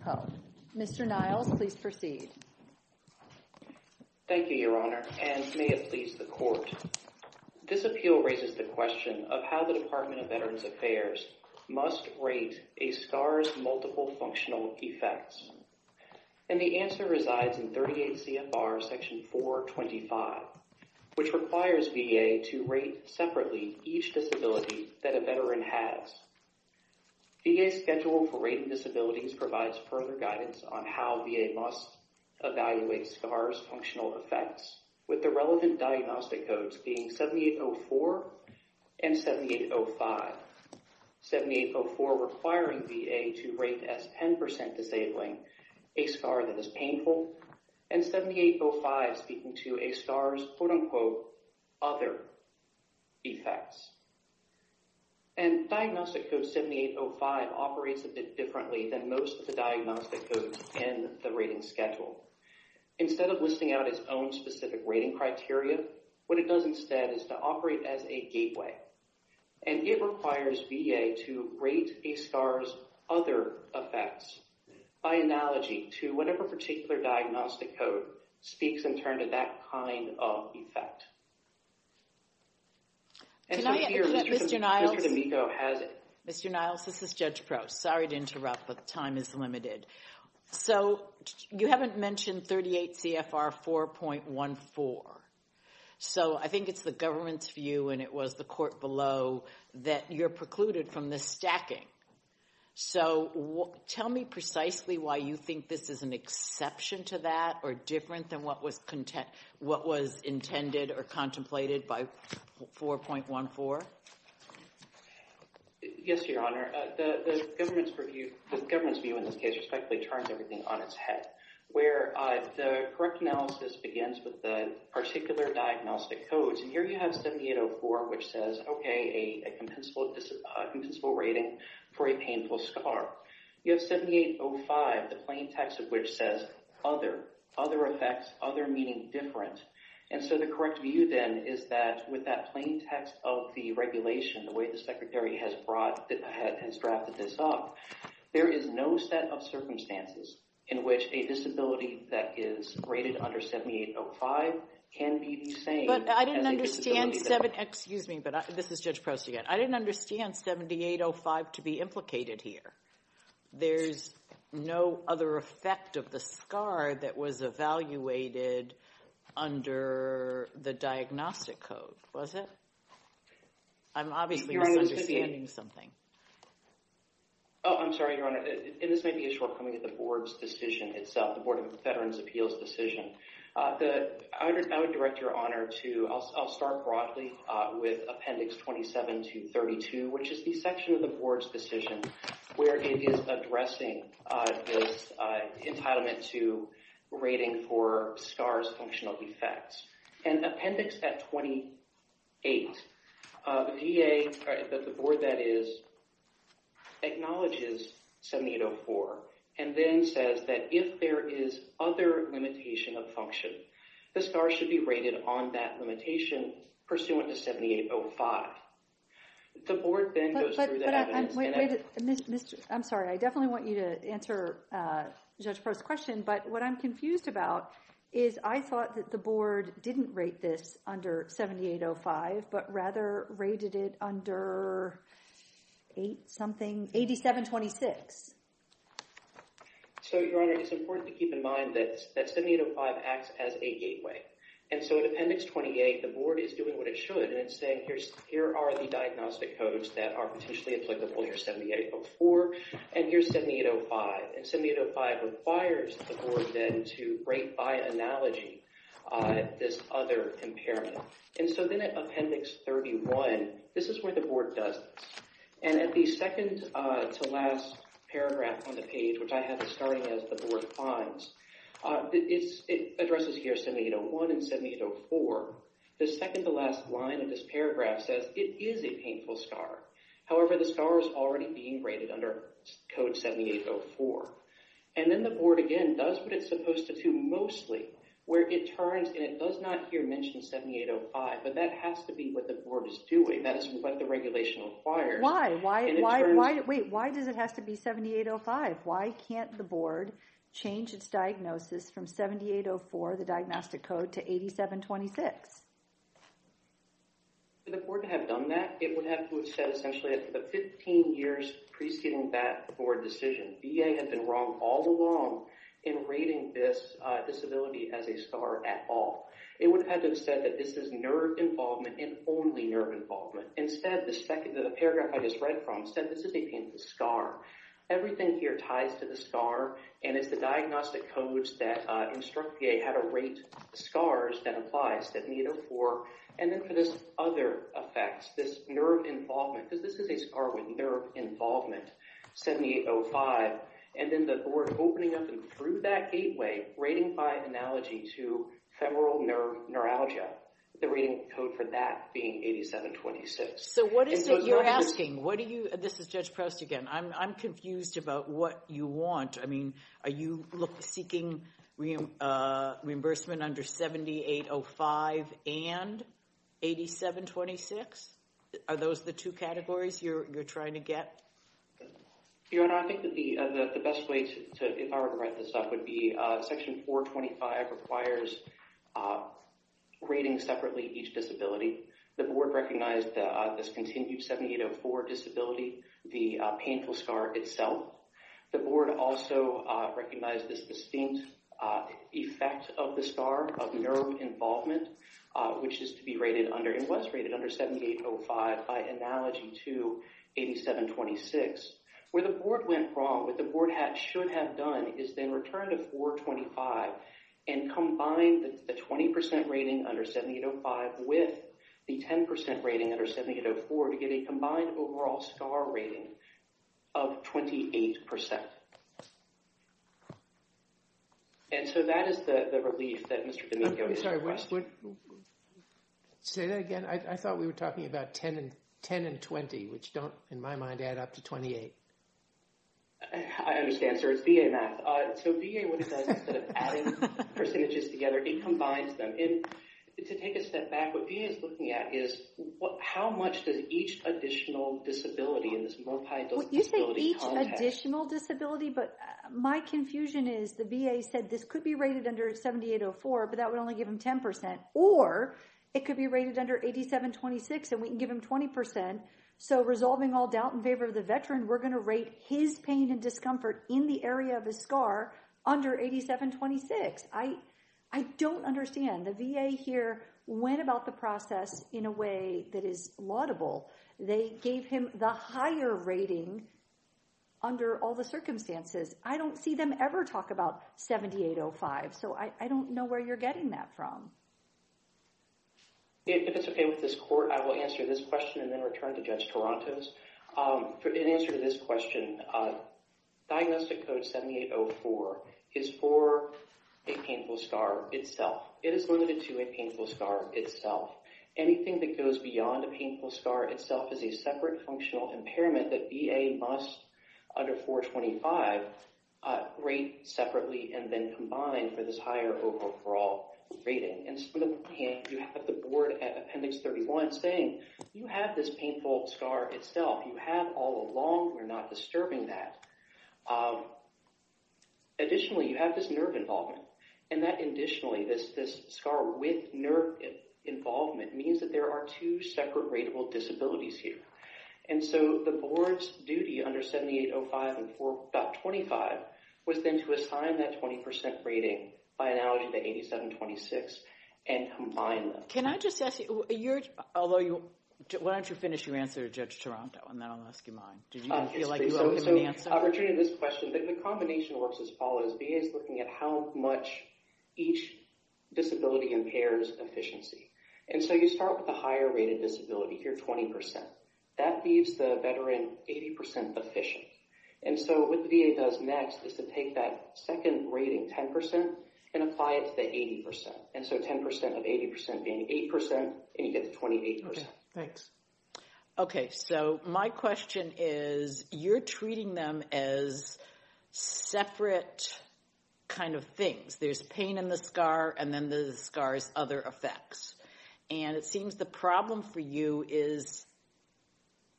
Code. Mr. Niles, please proceed. Thank you, Your Honor, and may it please the Court. This appeal raises the question of how the Department of Veterans Affairs must rate a SCAR's multiple functional effects. And the answer resides in 38 CFR section 425, which requires VA to rate separately each disability that a veteran has. VA's Schedule for Rating Disabilities provides further guidance on how VA must evaluate SCAR's functional effects with the relevant diagnostic codes being 7804 and 7805. 7804 requiring VA to rate as 10% disabling a SCAR that is painful and 7805 speaking to a SCAR's quote-unquote other effects. And Diagnostic Code 7805 operates a bit differently than most of the diagnostic codes in the rating schedule. Instead of listing out its own specific rating criteria, what it does is it requires VA to rate a SCAR's other effects by analogy to whatever particular diagnostic code speaks in turn to that kind of effect. And so here, Mr. D'Amico has it. Mr. Niles, this is Judge Probst. Sorry to interrupt, but time is limited. So you haven't mentioned 38 CFR 4.14. So I think it's the government's view and it was the court below that you're precluded from the stacking. So tell me precisely why you think this is an exception to that or different than what was intended or contemplated by 4.14. Yes, Your Honor. The government's view in this case respectfully turns everything on its head, where the correct analysis begins with the particular diagnostic codes. And here you have a compensable rating for a painful SCAR. You have 7805, the plain text of which says other, other effects, other meaning different. And so the correct view then is that with that plain text of the regulation, the way the Secretary has drafted this up, there is no set of circumstances in which a disability that is rated under 7805 can be the same. I didn't understand 7805 to be implicated here. There's no other effect of the SCAR that was evaluated under the diagnostic code, was it? I'm obviously misunderstanding something. Oh, I'm sorry, Your Honor. And this may be a shortcoming of the board's decision itself, the Board of Veterans' Appeals' decision. I would direct Your Honor to, I'll start broadly with Appendix 27 to 32, which is the section of the board's decision where it is addressing this entitlement to rating for SCAR's functional effects. And Appendix 28, the board that is acknowledges 7804 and then says that if there is other limitation of function, the SCAR should be rated on that limitation pursuant to 7805. The board then goes through the evidence. But I'm sorry, I definitely want you to answer Judge Proulx's question, but what I'm confused about is I thought that the board didn't rate this under 7805, but rather rated it under 8726. So, Your Honor, it's important to keep in mind that 7805 acts as a gateway. And so in Appendix 28, the board is doing what it should and it's saying here are the diagnostic codes that are potentially applicable here, 7804, and here's 7805. And 7805 requires the board then to rate by analogy this other impairment. And so then at Appendix 31, this is where the board does this. And at the second to last paragraph on the page, which I have starting as the board finds, it addresses here 7801 and 7804. The second to last line of this paragraph says it is a painful SCAR. However, the SCAR is already being rated under code 7804. And then the does what it's supposed to do mostly, where it turns and it does not here mention 7805, but that has to be what the board is doing. That is what the regulation requires. Why? Wait, why does it have to be 7805? Why can't the board change its diagnosis from 7804, the diagnostic code, to 8726? For the board to have done that, it would have to have said essentially that for the 15 years preceding that board decision, VA had been wrong all along in rating this disability as a SCAR at all. It would have had to have said that this is nerve involvement and only nerve involvement. Instead, the paragraph I just read from said this is a painful SCAR. Everything here ties to the SCAR, and it's the diagnostic codes that instruct VA how to rate SCARs that applies, 7804. And then there's other effects, this nerve involvement, because this is a SCAR with nerve involvement, 7805. And then the board opening up and through that gateway rating by analogy to femoral nerve neuralgia, the rating code for that being 8726. So what is it you're asking? This is Judge Proust again. I'm confused about what you want. I mean, you look seeking reimbursement under 7805 and 8726? Are those the two categories you're trying to get? Your Honor, I think that the best way to, if I were to write this up, would be section 425 requires rating separately each disability. The board recognized this continued 7804 disability, the painful SCAR itself. The board also recognized this distinct effect of the SCAR, of nerve involvement, which is to be rated under, and was rated under 7805 by analogy to 8726. Where the board went wrong, what the board should have done is then returned to 425 and combined the 20% rating under 7805 with the 10% rating under 7804 to get a rating of 28%. And so that is the relief that Mr. D'Amico is requesting. I'm sorry. Say that again. I thought we were talking about 10 and 20, which don't, in my mind, add up to 28. I understand, sir. It's VA math. So VA, what it does instead of adding percentages together, it combines them. And to take a step back, what VA is looking at is how much does each additional disability in this multi-disability context. Well, you said each additional disability, but my confusion is the VA said this could be rated under 7804, but that would only give him 10%, or it could be rated under 8726 and we can give him 20%. So resolving all doubt in favor of the veteran, we're going to rate his pain and process in a way that is laudable. They gave him the higher rating under all the circumstances. I don't see them ever talk about 7805. So I don't know where you're getting that from. If it's okay with this court, I will answer this question and then return to Judge Torontos. In answer to this question, diagnostic code 7804 is for a painful scar itself. It is limited to a painful scar itself. Anything that goes beyond a painful scar itself is a separate functional impairment that VA must, under 425, rate separately and then combine for this higher overall rating. And you have the board at Appendix 31 saying, you have this painful scar itself. You have all along. We're not disturbing that. Additionally, you have this nerve involvement. And that additionally, this scar with nerve involvement means that there are two separate rateable disabilities here. And so the board's duty under 7805 and 425 was then to assign that 20% rating by analogy to 8726 and combine them. Can I just ask you, why don't you finish your answer to Judge Toronto and then I'll ask you mine. Do you feel like you owe him an answer? I'll return to this question. The combination works as follows. VA is looking at how much each disability impairs efficiency. And so you start with the higher rated disability here, 20%. That leaves the veteran 80% efficient. And so what the VA does next is to take that second rating 10% and apply it to the 80%. And so 10% of 80% being 8% and you get the 28%. Okay. Thanks. Okay. So my question is, you're treating them as separate kind of things. There's pain in the scar and then the scars other effects. And it seems the problem for you is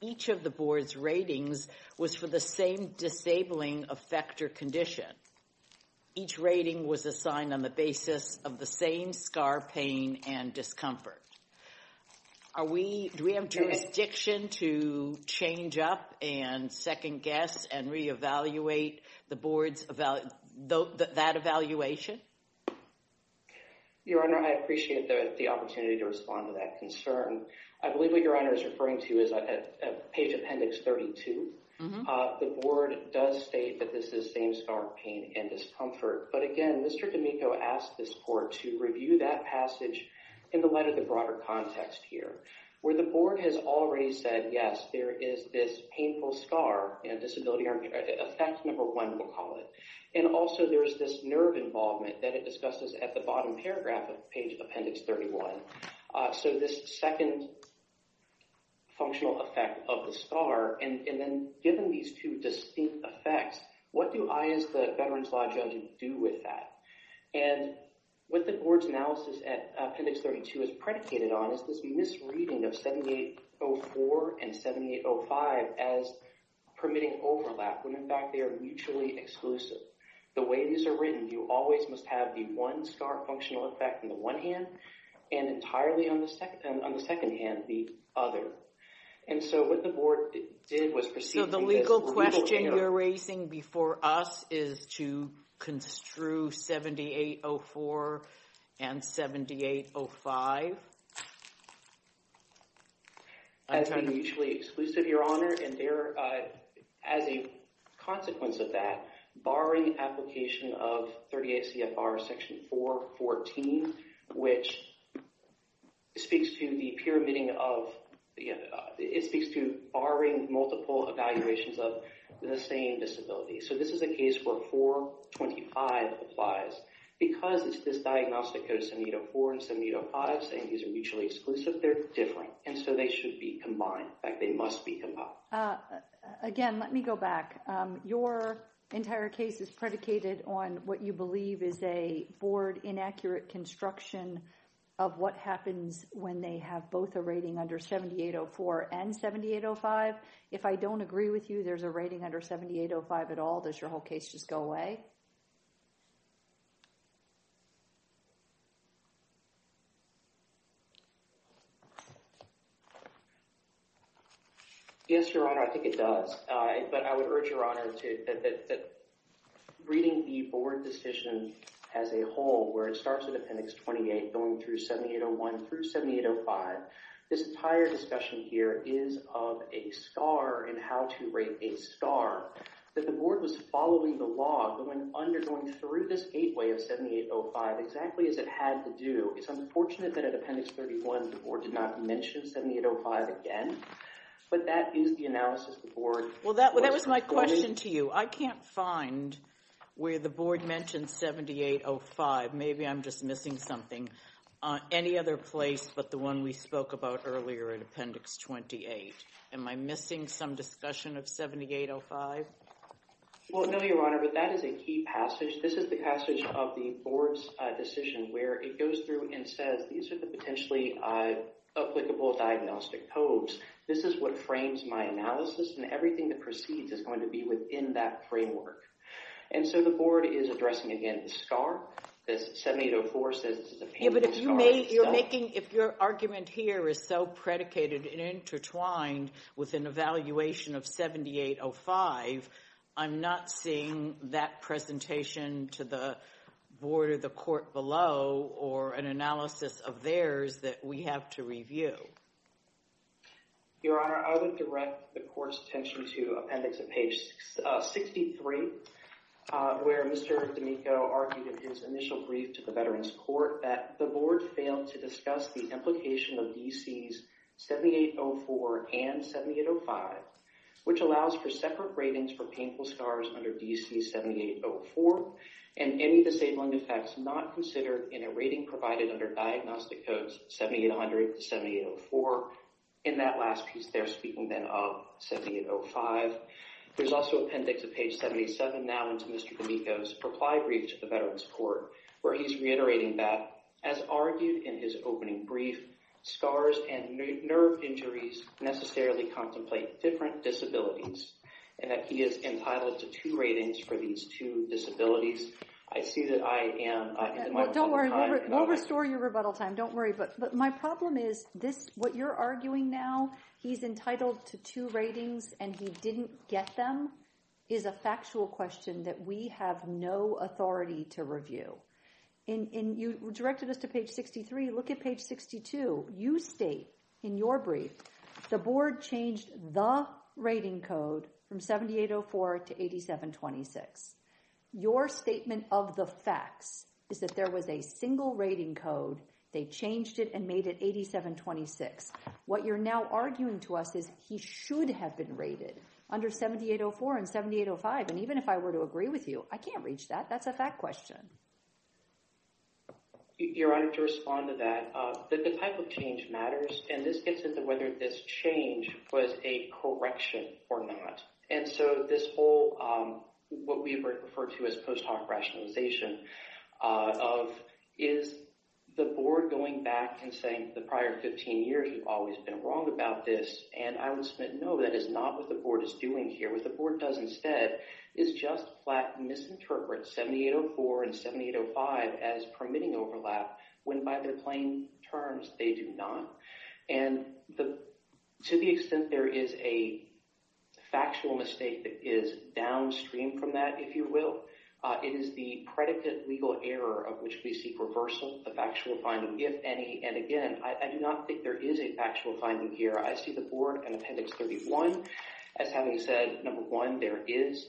each of the board's ratings was for the same disabling effect or condition. Each rating was assigned on the basis of the same scar pain and discomfort. Do we have jurisdiction to change up and second guess and reevaluate that evaluation? Your Honor, I appreciate the opportunity to respond to that concern. I believe what your Honor is referring to is page appendix 32. The board does state that this is same scar pain and discomfort. But again, Mr. D'Amico asked this review that passage in the light of the broader context here, where the board has already said, yes, there is this painful scar and disability or effect number one, we'll call it. And also there's this nerve involvement that it discusses at the bottom paragraph of page appendix 31. So this second functional effect of the scar and then given these two distinct effects, what do I as the veterans law judge do with that? And what the board's analysis at appendix 32 is predicated on is this misreading of 7804 and 7805 as permitting overlap, when in fact they are mutually exclusive. The way these are written, you always must have the one scar functional effect in the one hand and entirely on the second hand, the other. And so what the board did was proceed. The legal question you're raising before us is to construe 7804 and 7805. As mutually exclusive, your Honor, and as a consequence of that, barring application of the same disability. So this is a case where 425 applies. Because it's this diagnostic code, 7804 and 7805, saying these are mutually exclusive, they're different. And so they should be combined. In fact, they must be combined. Again, let me go back. Your entire case is predicated on what you believe is a board inaccurate construction of what happens when they have both a rating under 7804 and 7805. If I don't agree with you, there's a rating under 7805 at all. Does your whole case just go away? Yes, your Honor, I think it does. But I would urge your Honor that reading the board decision as a whole, where it starts with Appendix 28, going through 7801 through 7805, this entire discussion here is of a star and how to rate a star. That the board was following the law going under, going through this gateway of 7805, exactly as it had to do. It's unfortunate that at Appendix 31, the board did not mention 7805 again. But that is the analysis the board did. That was my question to you. I can't find where the board mentioned 7805. Maybe I'm just missing something. Any other place but the one we spoke about earlier in Appendix 28. Am I missing some discussion of 7805? Well, no, your Honor, but that is a key passage. This is the passage of the board's decision where it goes through and says, these are the potentially applicable diagnostic codes. This is what frames my analysis and everything that proceeds is going to be within that framework. And so the board is addressing, again, the star. This 7804 says this is a painful star. But if you're making, if your argument here is so predicated and intertwined with an evaluation of 7805, I'm not seeing that presentation to the board or the court below or an analysis of theirs that we have to review. Your Honor, I would direct the court's attention to Appendix 63, where Mr. D'Amico argued in his initial brief to the Veterans Court that the board failed to discuss the implication of DC's 7804 and 7805, which allows for separate ratings for painful scars under DC's 7804 and any disabling effects not considered in a rating provided under diagnostic codes 7800 to 7804. In that last piece, they're speaking then of 7805. There's also Appendix of page 77 now into Mr. D'Amico's reply brief to the Veterans Court, where he's reiterating that, as argued in his opening brief, scars and nerve injuries necessarily contemplate different disabilities, and that he is entitled to two ratings for these two disabilities. I see that I am in the middle of some time. Okay. Well, don't worry. We'll restore your rebuttal time. Don't worry. But my problem is this, what you're arguing now, he's entitled to two ratings and he didn't get them, is a factual question that we have no authority to review. And you directed us to page 63. Look at page 62. You state in your brief, the board changed the rating code from 7804 to 8726. Your statement of the facts is that there was a single rating code. They changed it and made it 8726. What you're now arguing to us is he should have been rated under 7804 and 7805. And even if I were to agree with you, I can't reach that. That's a fact question. Your Honor, to respond to that, the type of change matters. And this gets into whether this change was a correction or not. And so this whole, what we refer to as post hoc rationalization of, is the board going back and saying the prior 15 years, we've always been wrong about this. And I would submit, no, that is not what the board is doing here. What the board does instead is just flat misinterpret 7804 and 7805 as permitting overlap, when by their plain terms, they do not. And to the extent there is a factual mistake that is downstream from that, if you will, it is the predicate legal error of which we seek reversal, the factual finding, if any. And again, I do not think there is a factual finding here. I see the board in appendix 31 as having said, number one, there is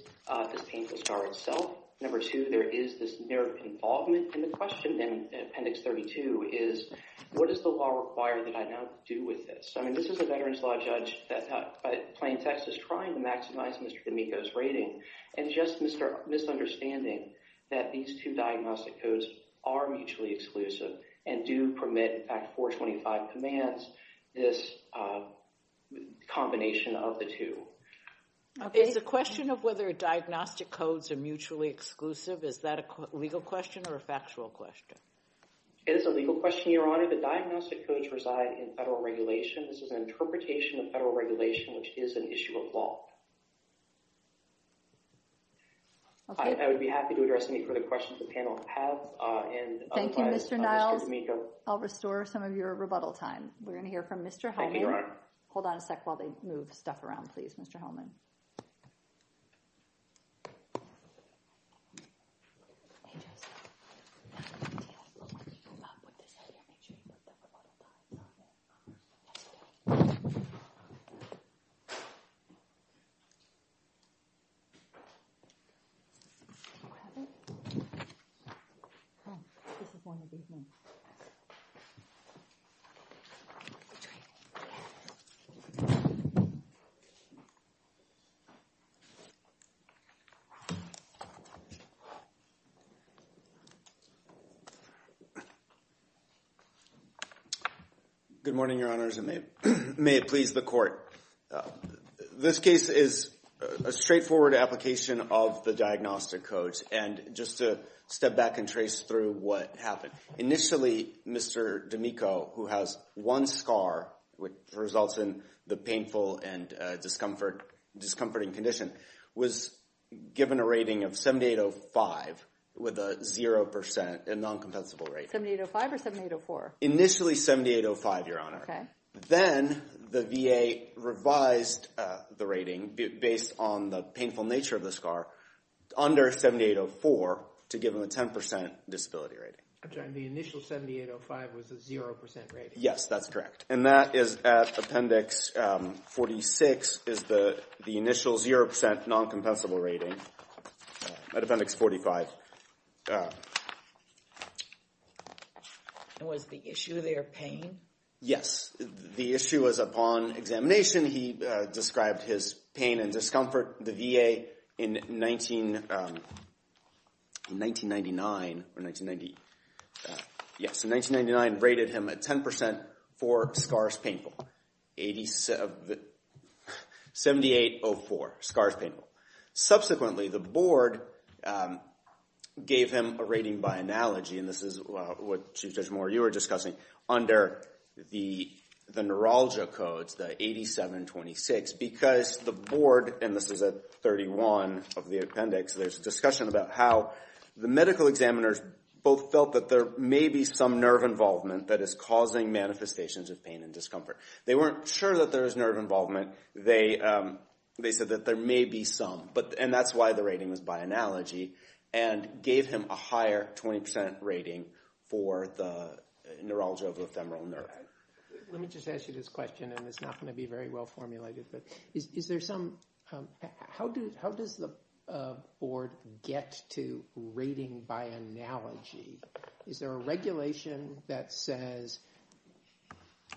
this painful scar itself. Number two, there is this mere involvement in the question. And appendix 32 is, what does the law require that I now do with this? I mean, this is a veterans law judge that's at Plain Texas trying to maximize Mr. D'Amico's rating. And just misunderstanding that these two diagnostic codes are mutually exclusive and do permit, in fact, 425 commands, this combination of the two. It's a question of whether diagnostic codes are mutually exclusive. Is that a legal question or a factual question? It is a legal question, Your Honor. The diagnostic codes reside in federal regulation. This is an interpretation of federal regulation, which is an issue of law. I would be happy to address any further questions the panel has. Thank you, Mr. Niles. I'll restore some of your rebuttal time. We're going to hear from Mr. Hellman. Hold on a sec while they move stuff around, please, Mr. Hellman. Good morning, Your Honors, and may it please the Court. This case is a straightforward application of the diagnostic codes. And just to step back and trace through what happened. Initially, Mr. D'Amico, who has one scar, which results in the painful and discomforting condition, was given a rating of 7805 with a zero percent, a non-compensable rating. 7805 or 7804? Initially, 7805, Your Honor. Okay. The VA revised the rating based on the painful nature of the scar under 7804 to give him a 10% disability rating. I'm sorry. The initial 7805 was a zero percent rating? Yes, that's correct. And that is at Appendix 46 is the initial zero percent non-compensable rating at Appendix 45. And was the issue there pain? Yes, the issue was upon examination. He described his pain and discomfort. The VA in 1999 rated him at 10% for scars painful. 7804, scars painful. Subsequently, the board gave him a rating by the neuralgia codes, the 8726, because the board, and this is at 31 of the appendix, there's a discussion about how the medical examiners both felt that there may be some nerve involvement that is causing manifestations of pain and discomfort. They weren't sure that there was nerve involvement. They said that there may be some, and that's why the rating was by for the neurology of the femoral nerve. Let me just ask you this question, and it's not going to be very well formulated, but is there some, how does the board get to rating by analogy? Is there a regulation that says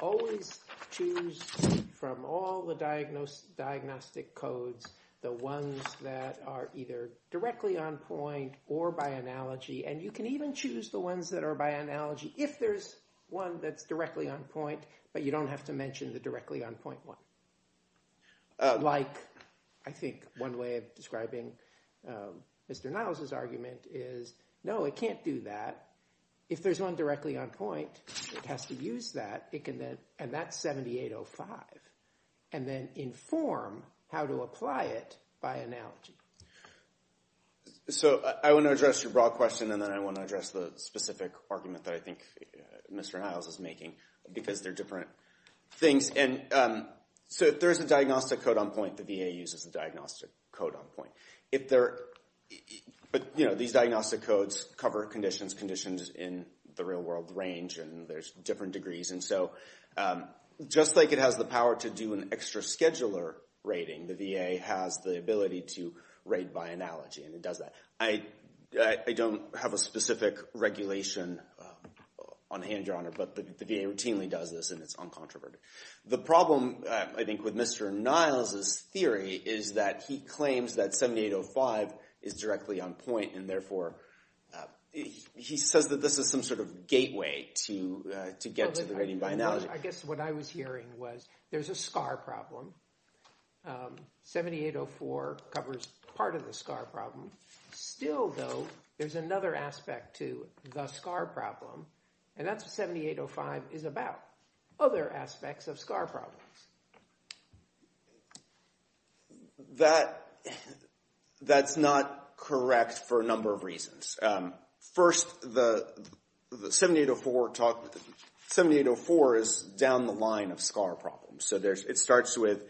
always choose from all the diagnostic codes, the ones that are either directly on point or by analogy, and you can even choose the ones that are by analogy if there's one that's directly on point, but you don't have to mention the directly on point one. Like, I think one way of describing Mr. Niles's argument is, no, it can't do that. If there's one directly on point, it has to use that, and that's 7805, and then inform how to apply it by analogy. So, I want to address your broad question, and then I want to address the specific argument that I think Mr. Niles is making, because they're different things, and so if there is a diagnostic code on point, the VA uses the diagnostic code on point. If there, but you know, these diagnostic codes cover conditions, conditions in the real world range, and there's different degrees, and so just like it has the power to do an extra scheduler rating, the VA has the ability to rate by analogy, and it does that. I don't have a specific regulation on hand, Your Honor, but the VA routinely does this, and it's uncontroverted. The problem, I think, with Mr. Niles's theory is that he claims that 7805 is directly on point, and therefore, he says that this is some sort of gateway to get to the rating by analogy. I guess what I was hearing was there's a SCAR problem. 7804 covers part of the SCAR problem. Still, though, there's another aspect to the SCAR problem, and that's what 7805 is about, other aspects of SCAR problems. That, that's not correct for a number of reasons. First, the 7804 talk, 7804 is down the line of SCAR problems, so there's, it starts with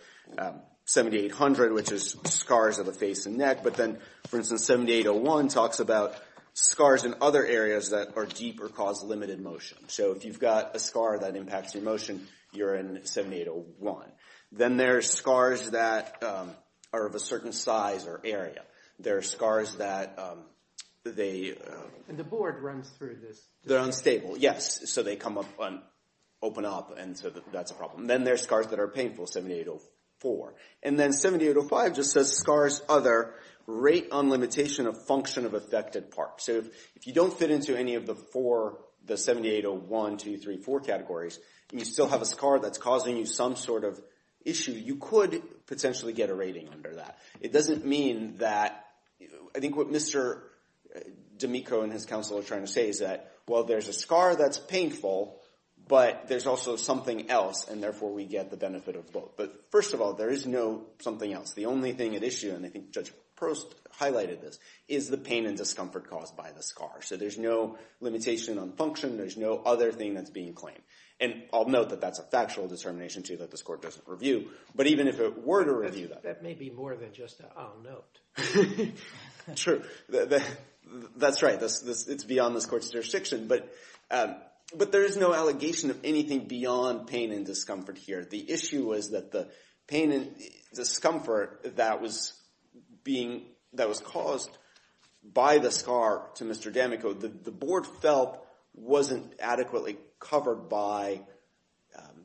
7800, which is SCARs of the face and neck, but then, for instance, 7801 talks about SCARs in other areas that are deep or cause limited motion. So, if you've got a SCAR that impacts your motion, you're in 7801. Then there's SCARs that are of a certain size or area. There are SCARs that they... And the board runs through this. They're unstable, yes, so they come up and open up, and so that's a problem. Then there's SCARs that are painful, 7804. And then 7805 just says SCARs other rate on limitation of function of part. So, if you don't fit into any of the four, the 7801, 2, 3, 4 categories, and you still have a SCAR that's causing you some sort of issue, you could potentially get a rating under that. It doesn't mean that... I think what Mr. D'Amico and his counsel are trying to say is that, well, there's a SCAR that's painful, but there's also something else, and therefore, we get the benefit of both. But first of all, there is no something else. The only thing at cause by the SCAR. So, there's no limitation on function. There's no other thing that's being claimed. And I'll note that that's a factual determination, too, that this court doesn't review. But even if it were to review that... That may be more than just an I'll note. True. That's right. It's beyond this court's jurisdiction. But there is no allegation of anything beyond pain and discomfort here. The issue was that the pain and discomfort that was being... That was caused by the SCAR to Mr. D'Amico, the board felt wasn't adequately covered by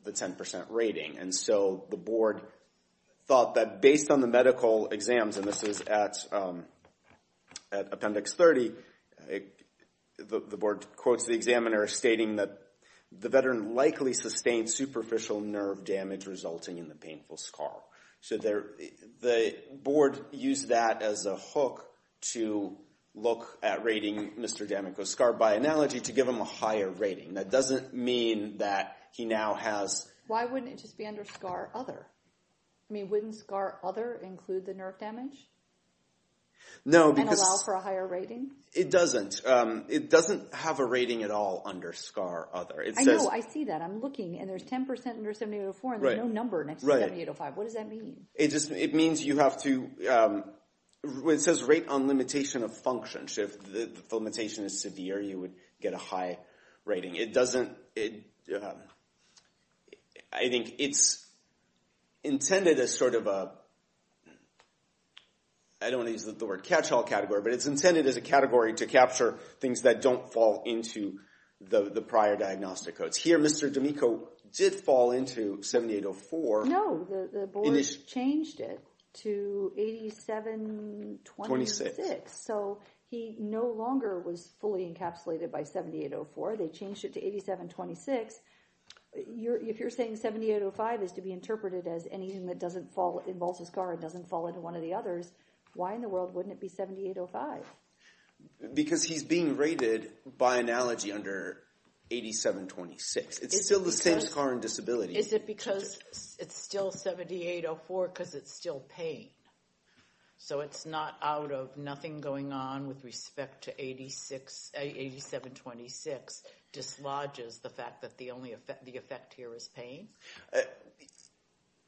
the 10% rating. And so, the board thought that based on the medical exams, and this is at Appendix 30, the board quotes the examiner stating that the veteran likely sustained superficial nerve damage resulting in the painful SCAR. So, the board used that as a hook to look at rating Mr. D'Amico's SCAR by analogy to give him a higher rating. That doesn't mean that he now has... Why wouldn't it just be under SCAR Other? I mean, wouldn't SCAR Other include the nerve damage? No, because... And allow for a higher rating? It doesn't. It doesn't have a 10% under 7804, and there's no number next to 7805. What does that mean? It just... It means you have to... It says rate on limitation of function. So, if the limitation is severe, you would get a high rating. It doesn't... I think it's intended as sort of a... I don't want to use the word catch-all category, but it's intended as a category to capture things that don't fall into the prior diagnostic codes. Here, Mr. D'Amico did fall into 7804. No, the board changed it to 8726. So, he no longer was fully encapsulated by 7804. They changed it to 8726. If you're saying 7805 is to be interpreted as anything that doesn't fall... Involves a SCAR and doesn't fall into one of the others, why in the world wouldn't it be 7805? Because he's being rated by analogy under 8726. It's still the same SCAR and disability. Is it because it's still 7804 because it's still pain? So, it's not out of nothing going on with respect to 8726 dislodges the fact that the effect here is pain?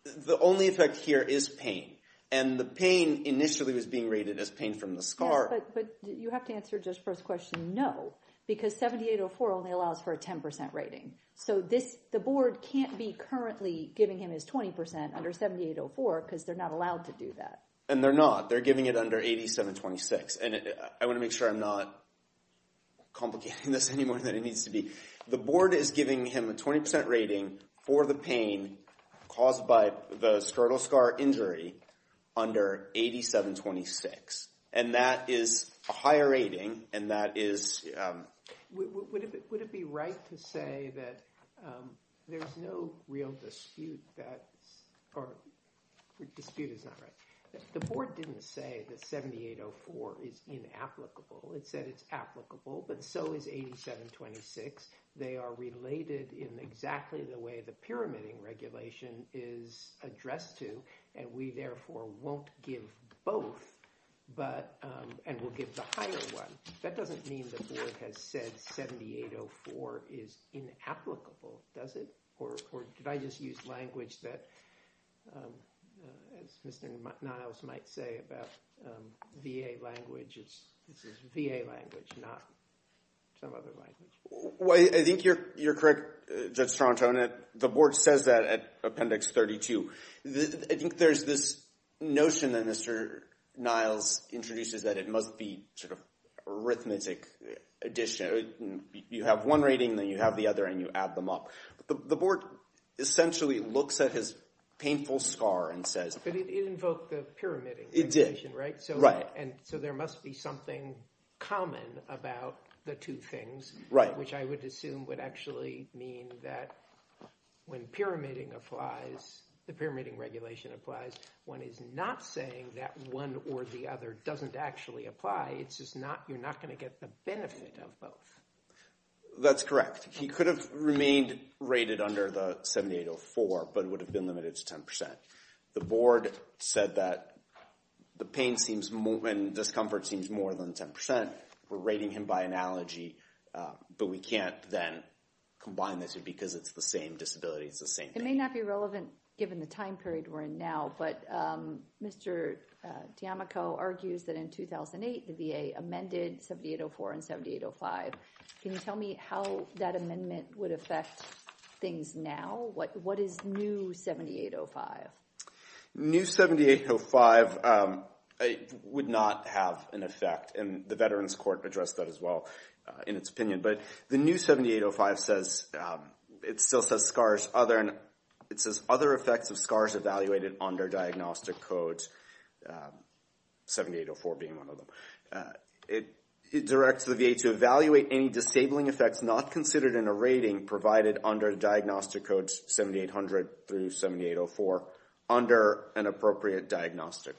The only effect here is pain, and the pain initially was being rated as pain from the SCAR. But you have to answer just first question, no, because 7804 only allows for a 10% rating. So, the board can't be currently giving him his 20% under 7804 because they're not allowed to do that. And they're not. They're giving it under 8726, and I want to make sure I'm not complicating this any more than it needs to be. The board is giving him a 20% rating for the pain caused by the skeletal SCAR injury under 8726. And that is a higher rating, and that is... Would it be right to say that there's no real dispute that... Or dispute is not right. The board didn't say that 7804 is inapplicable. It said it's applicable, but so is 8726. They are related in exactly the way the Pyramiding Regulation is addressed to, and we therefore won't give both, and we'll give the higher one. That doesn't mean the board has said 7804 is inapplicable, does it? Or did I just use language that, as Mr. Niles might say about VA language, it's VA language, not some other language. Well, I think you're correct, Judge Trontone. The board says that at Appendix 32. I think there's this notion that Mr. Niles introduces that it must be sort of arithmetic addition. You have one rating, then you have the other, and you add them up. The board essentially looks at his painful SCAR and says... But it invoked the Pyramiding Regulation, right? It did. Right. And so there must be something common about the two things, which I would assume would actually mean that when Pyramiding applies, the Pyramiding Regulation applies, one is not saying that one or the other doesn't actually apply. It's just not... You're not going to get the benefit of both. That's correct. He could have remained rated under the 7804, but it would have been limited to 10%. The board said that the pain and discomfort seems more than 10%. We're rating him by analogy, but we can't then combine this because it's the same disability. It's the same thing. It may not be relevant given the time period we're in now, but Mr. D'Amico argues that in 2008, the VA amended 7804 and 7805. Can you tell me how that amendment would affect things now? What is new 7805? The new 7805 would not have an effect, and the Veterans Court addressed that as well in its opinion. But the new 7805 says... It still says SCARs... It says other effects of SCARs under diagnostic codes, 7804 being one of them. It directs the VA to evaluate any disabling effects not considered in a rating provided under diagnostic codes 7800 through 7804 under an appropriate diagnostic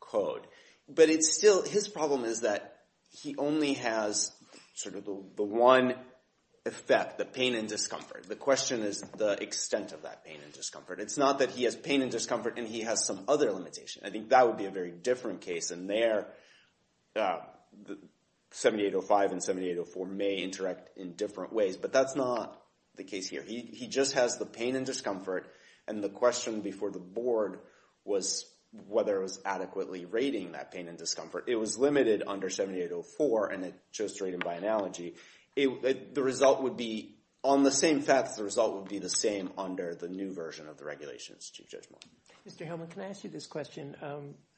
code. But it's still... His problem is that he only has sort of the one effect, the pain and discomfort. The question is the extent of that pain and discomfort. He has some other limitation. I think that would be a very different case in there. 7805 and 7804 may interact in different ways, but that's not the case here. He just has the pain and discomfort, and the question before the board was whether it was adequately rating that pain and discomfort. It was limited under 7804, and it just rated by analogy. The result would be... On the same facts, the result would be the same under the new version of the regulations, Chief Judge Moore. Mr. Helman, can I ask you this question?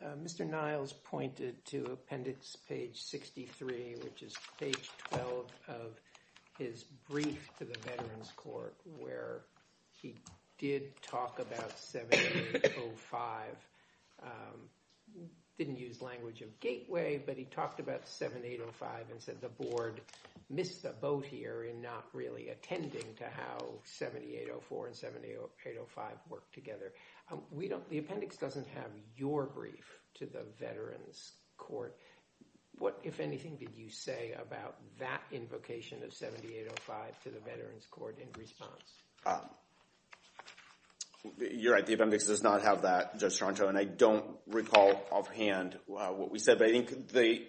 Mr. Niles pointed to appendix page 63, which is page 12 of his brief to the Veterans Court where he did talk about 7805. Didn't use language of gateway, but he talked about 7805 and said the board missed the boat in not really attending to how 7804 and 7805 worked together. The appendix doesn't have your brief to the Veterans Court. What, if anything, did you say about that invocation of 7805 to the Veterans Court in response? You're right. The appendix does not have that, Judge Toronto, and I don't recall offhand what we said, but I think the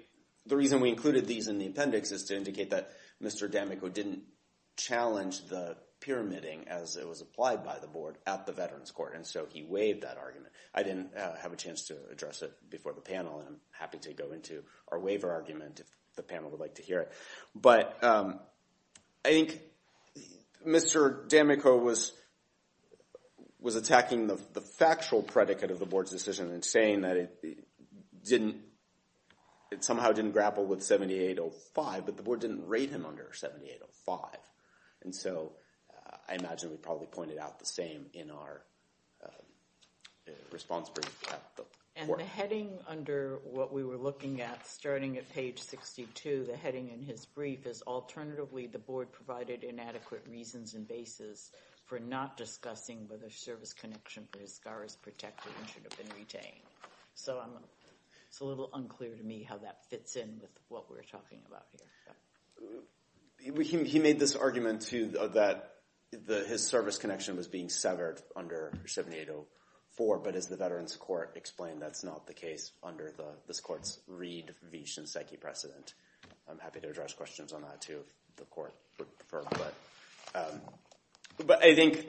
reason we included these in the appendix is to indicate that Mr. D'Amico didn't challenge the pyramiding as it was applied by the board at the Veterans Court, and so he waived that argument. I didn't have a chance to address it before the panel, and I'm happy to go into our waiver argument if the panel would like to hear it. But I think Mr. D'Amico was attacking the factual predicate of the board's decision and didn't, it somehow didn't grapple with 7805, but the board didn't rate him under 7805, and so I imagine we probably pointed out the same in our response brief. And the heading under what we were looking at starting at page 62, the heading in his brief, is alternatively the board provided inadequate reasons and basis for not discussing whether service connection for his scar is protected and should have been retained. So it's a little unclear to me how that fits in with what we're talking about here. He made this argument, too, that his service connection was being severed under 7804, but as the Veterans Court explained, that's not the case under this court's Reid v. Shinseki precedent. I'm happy to address questions on that, too, if the court would prefer. But I think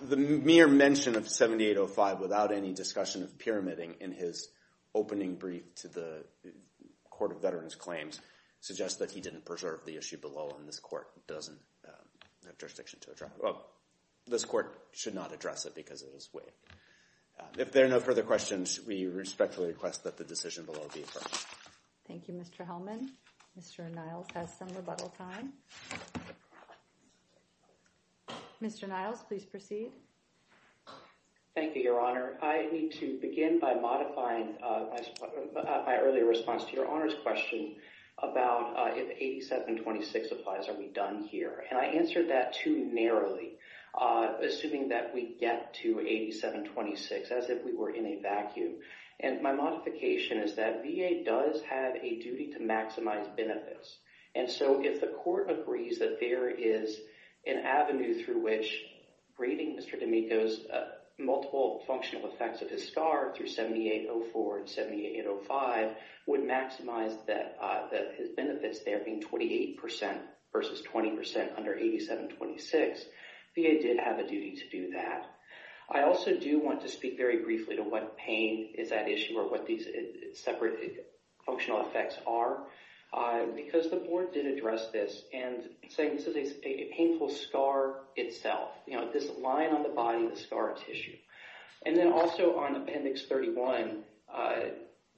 the mere mention of 7805 without any discussion of pyramiding in his opening brief to the Court of Veterans Claims suggests that he didn't preserve the issue below, and this court doesn't have jurisdiction to address it. Well, this court should not address it because of his way. If there are no further questions, we respectfully request that the decision below be referred. Thank you, Mr. Hellman. Mr. Niles has some rebuttal time. Mr. Niles, please proceed. Thank you, Your Honor. I need to begin by modifying my earlier response to Your Honor's question about if 8726 applies, are we done here? And I answered that too narrowly, assuming that we get to 8726 as if we were in a vacuum. And my modification is that VA does have a duty to maximize benefits. And so if the court agrees that there is an avenue through which grading Mr. D'Amico's multiple functional effects of his scar through 7804 and 7805 would maximize that his benefits there being 28% versus 20% under 8726, VA did have a duty to do that. I also do want to speak very briefly to what pain is at issue or what these separate functional effects are because the board did address this and say this is a painful scar itself. You know, this line on the body of the scar tissue. And then also on Appendix 31,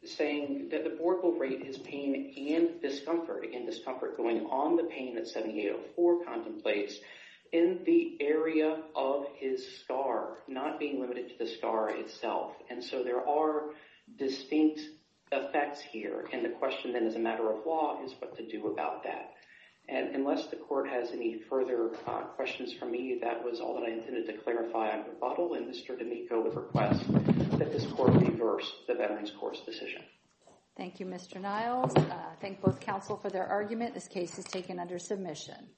saying that the board will rate his pain and discomfort, going on the pain that 7804 contemplates in the area of his scar, not being limited to the scar itself. And so there are distinct effects here. And the question then as a matter of law is what to do about that. And unless the court has any further questions for me, that was all that I intended to clarify on rebuttal. And Mr. D'Amico would request that this court reverse the Veterans Decision. Thank you, Mr. Niles. Thank both counsel for their argument. This case is taken under submission.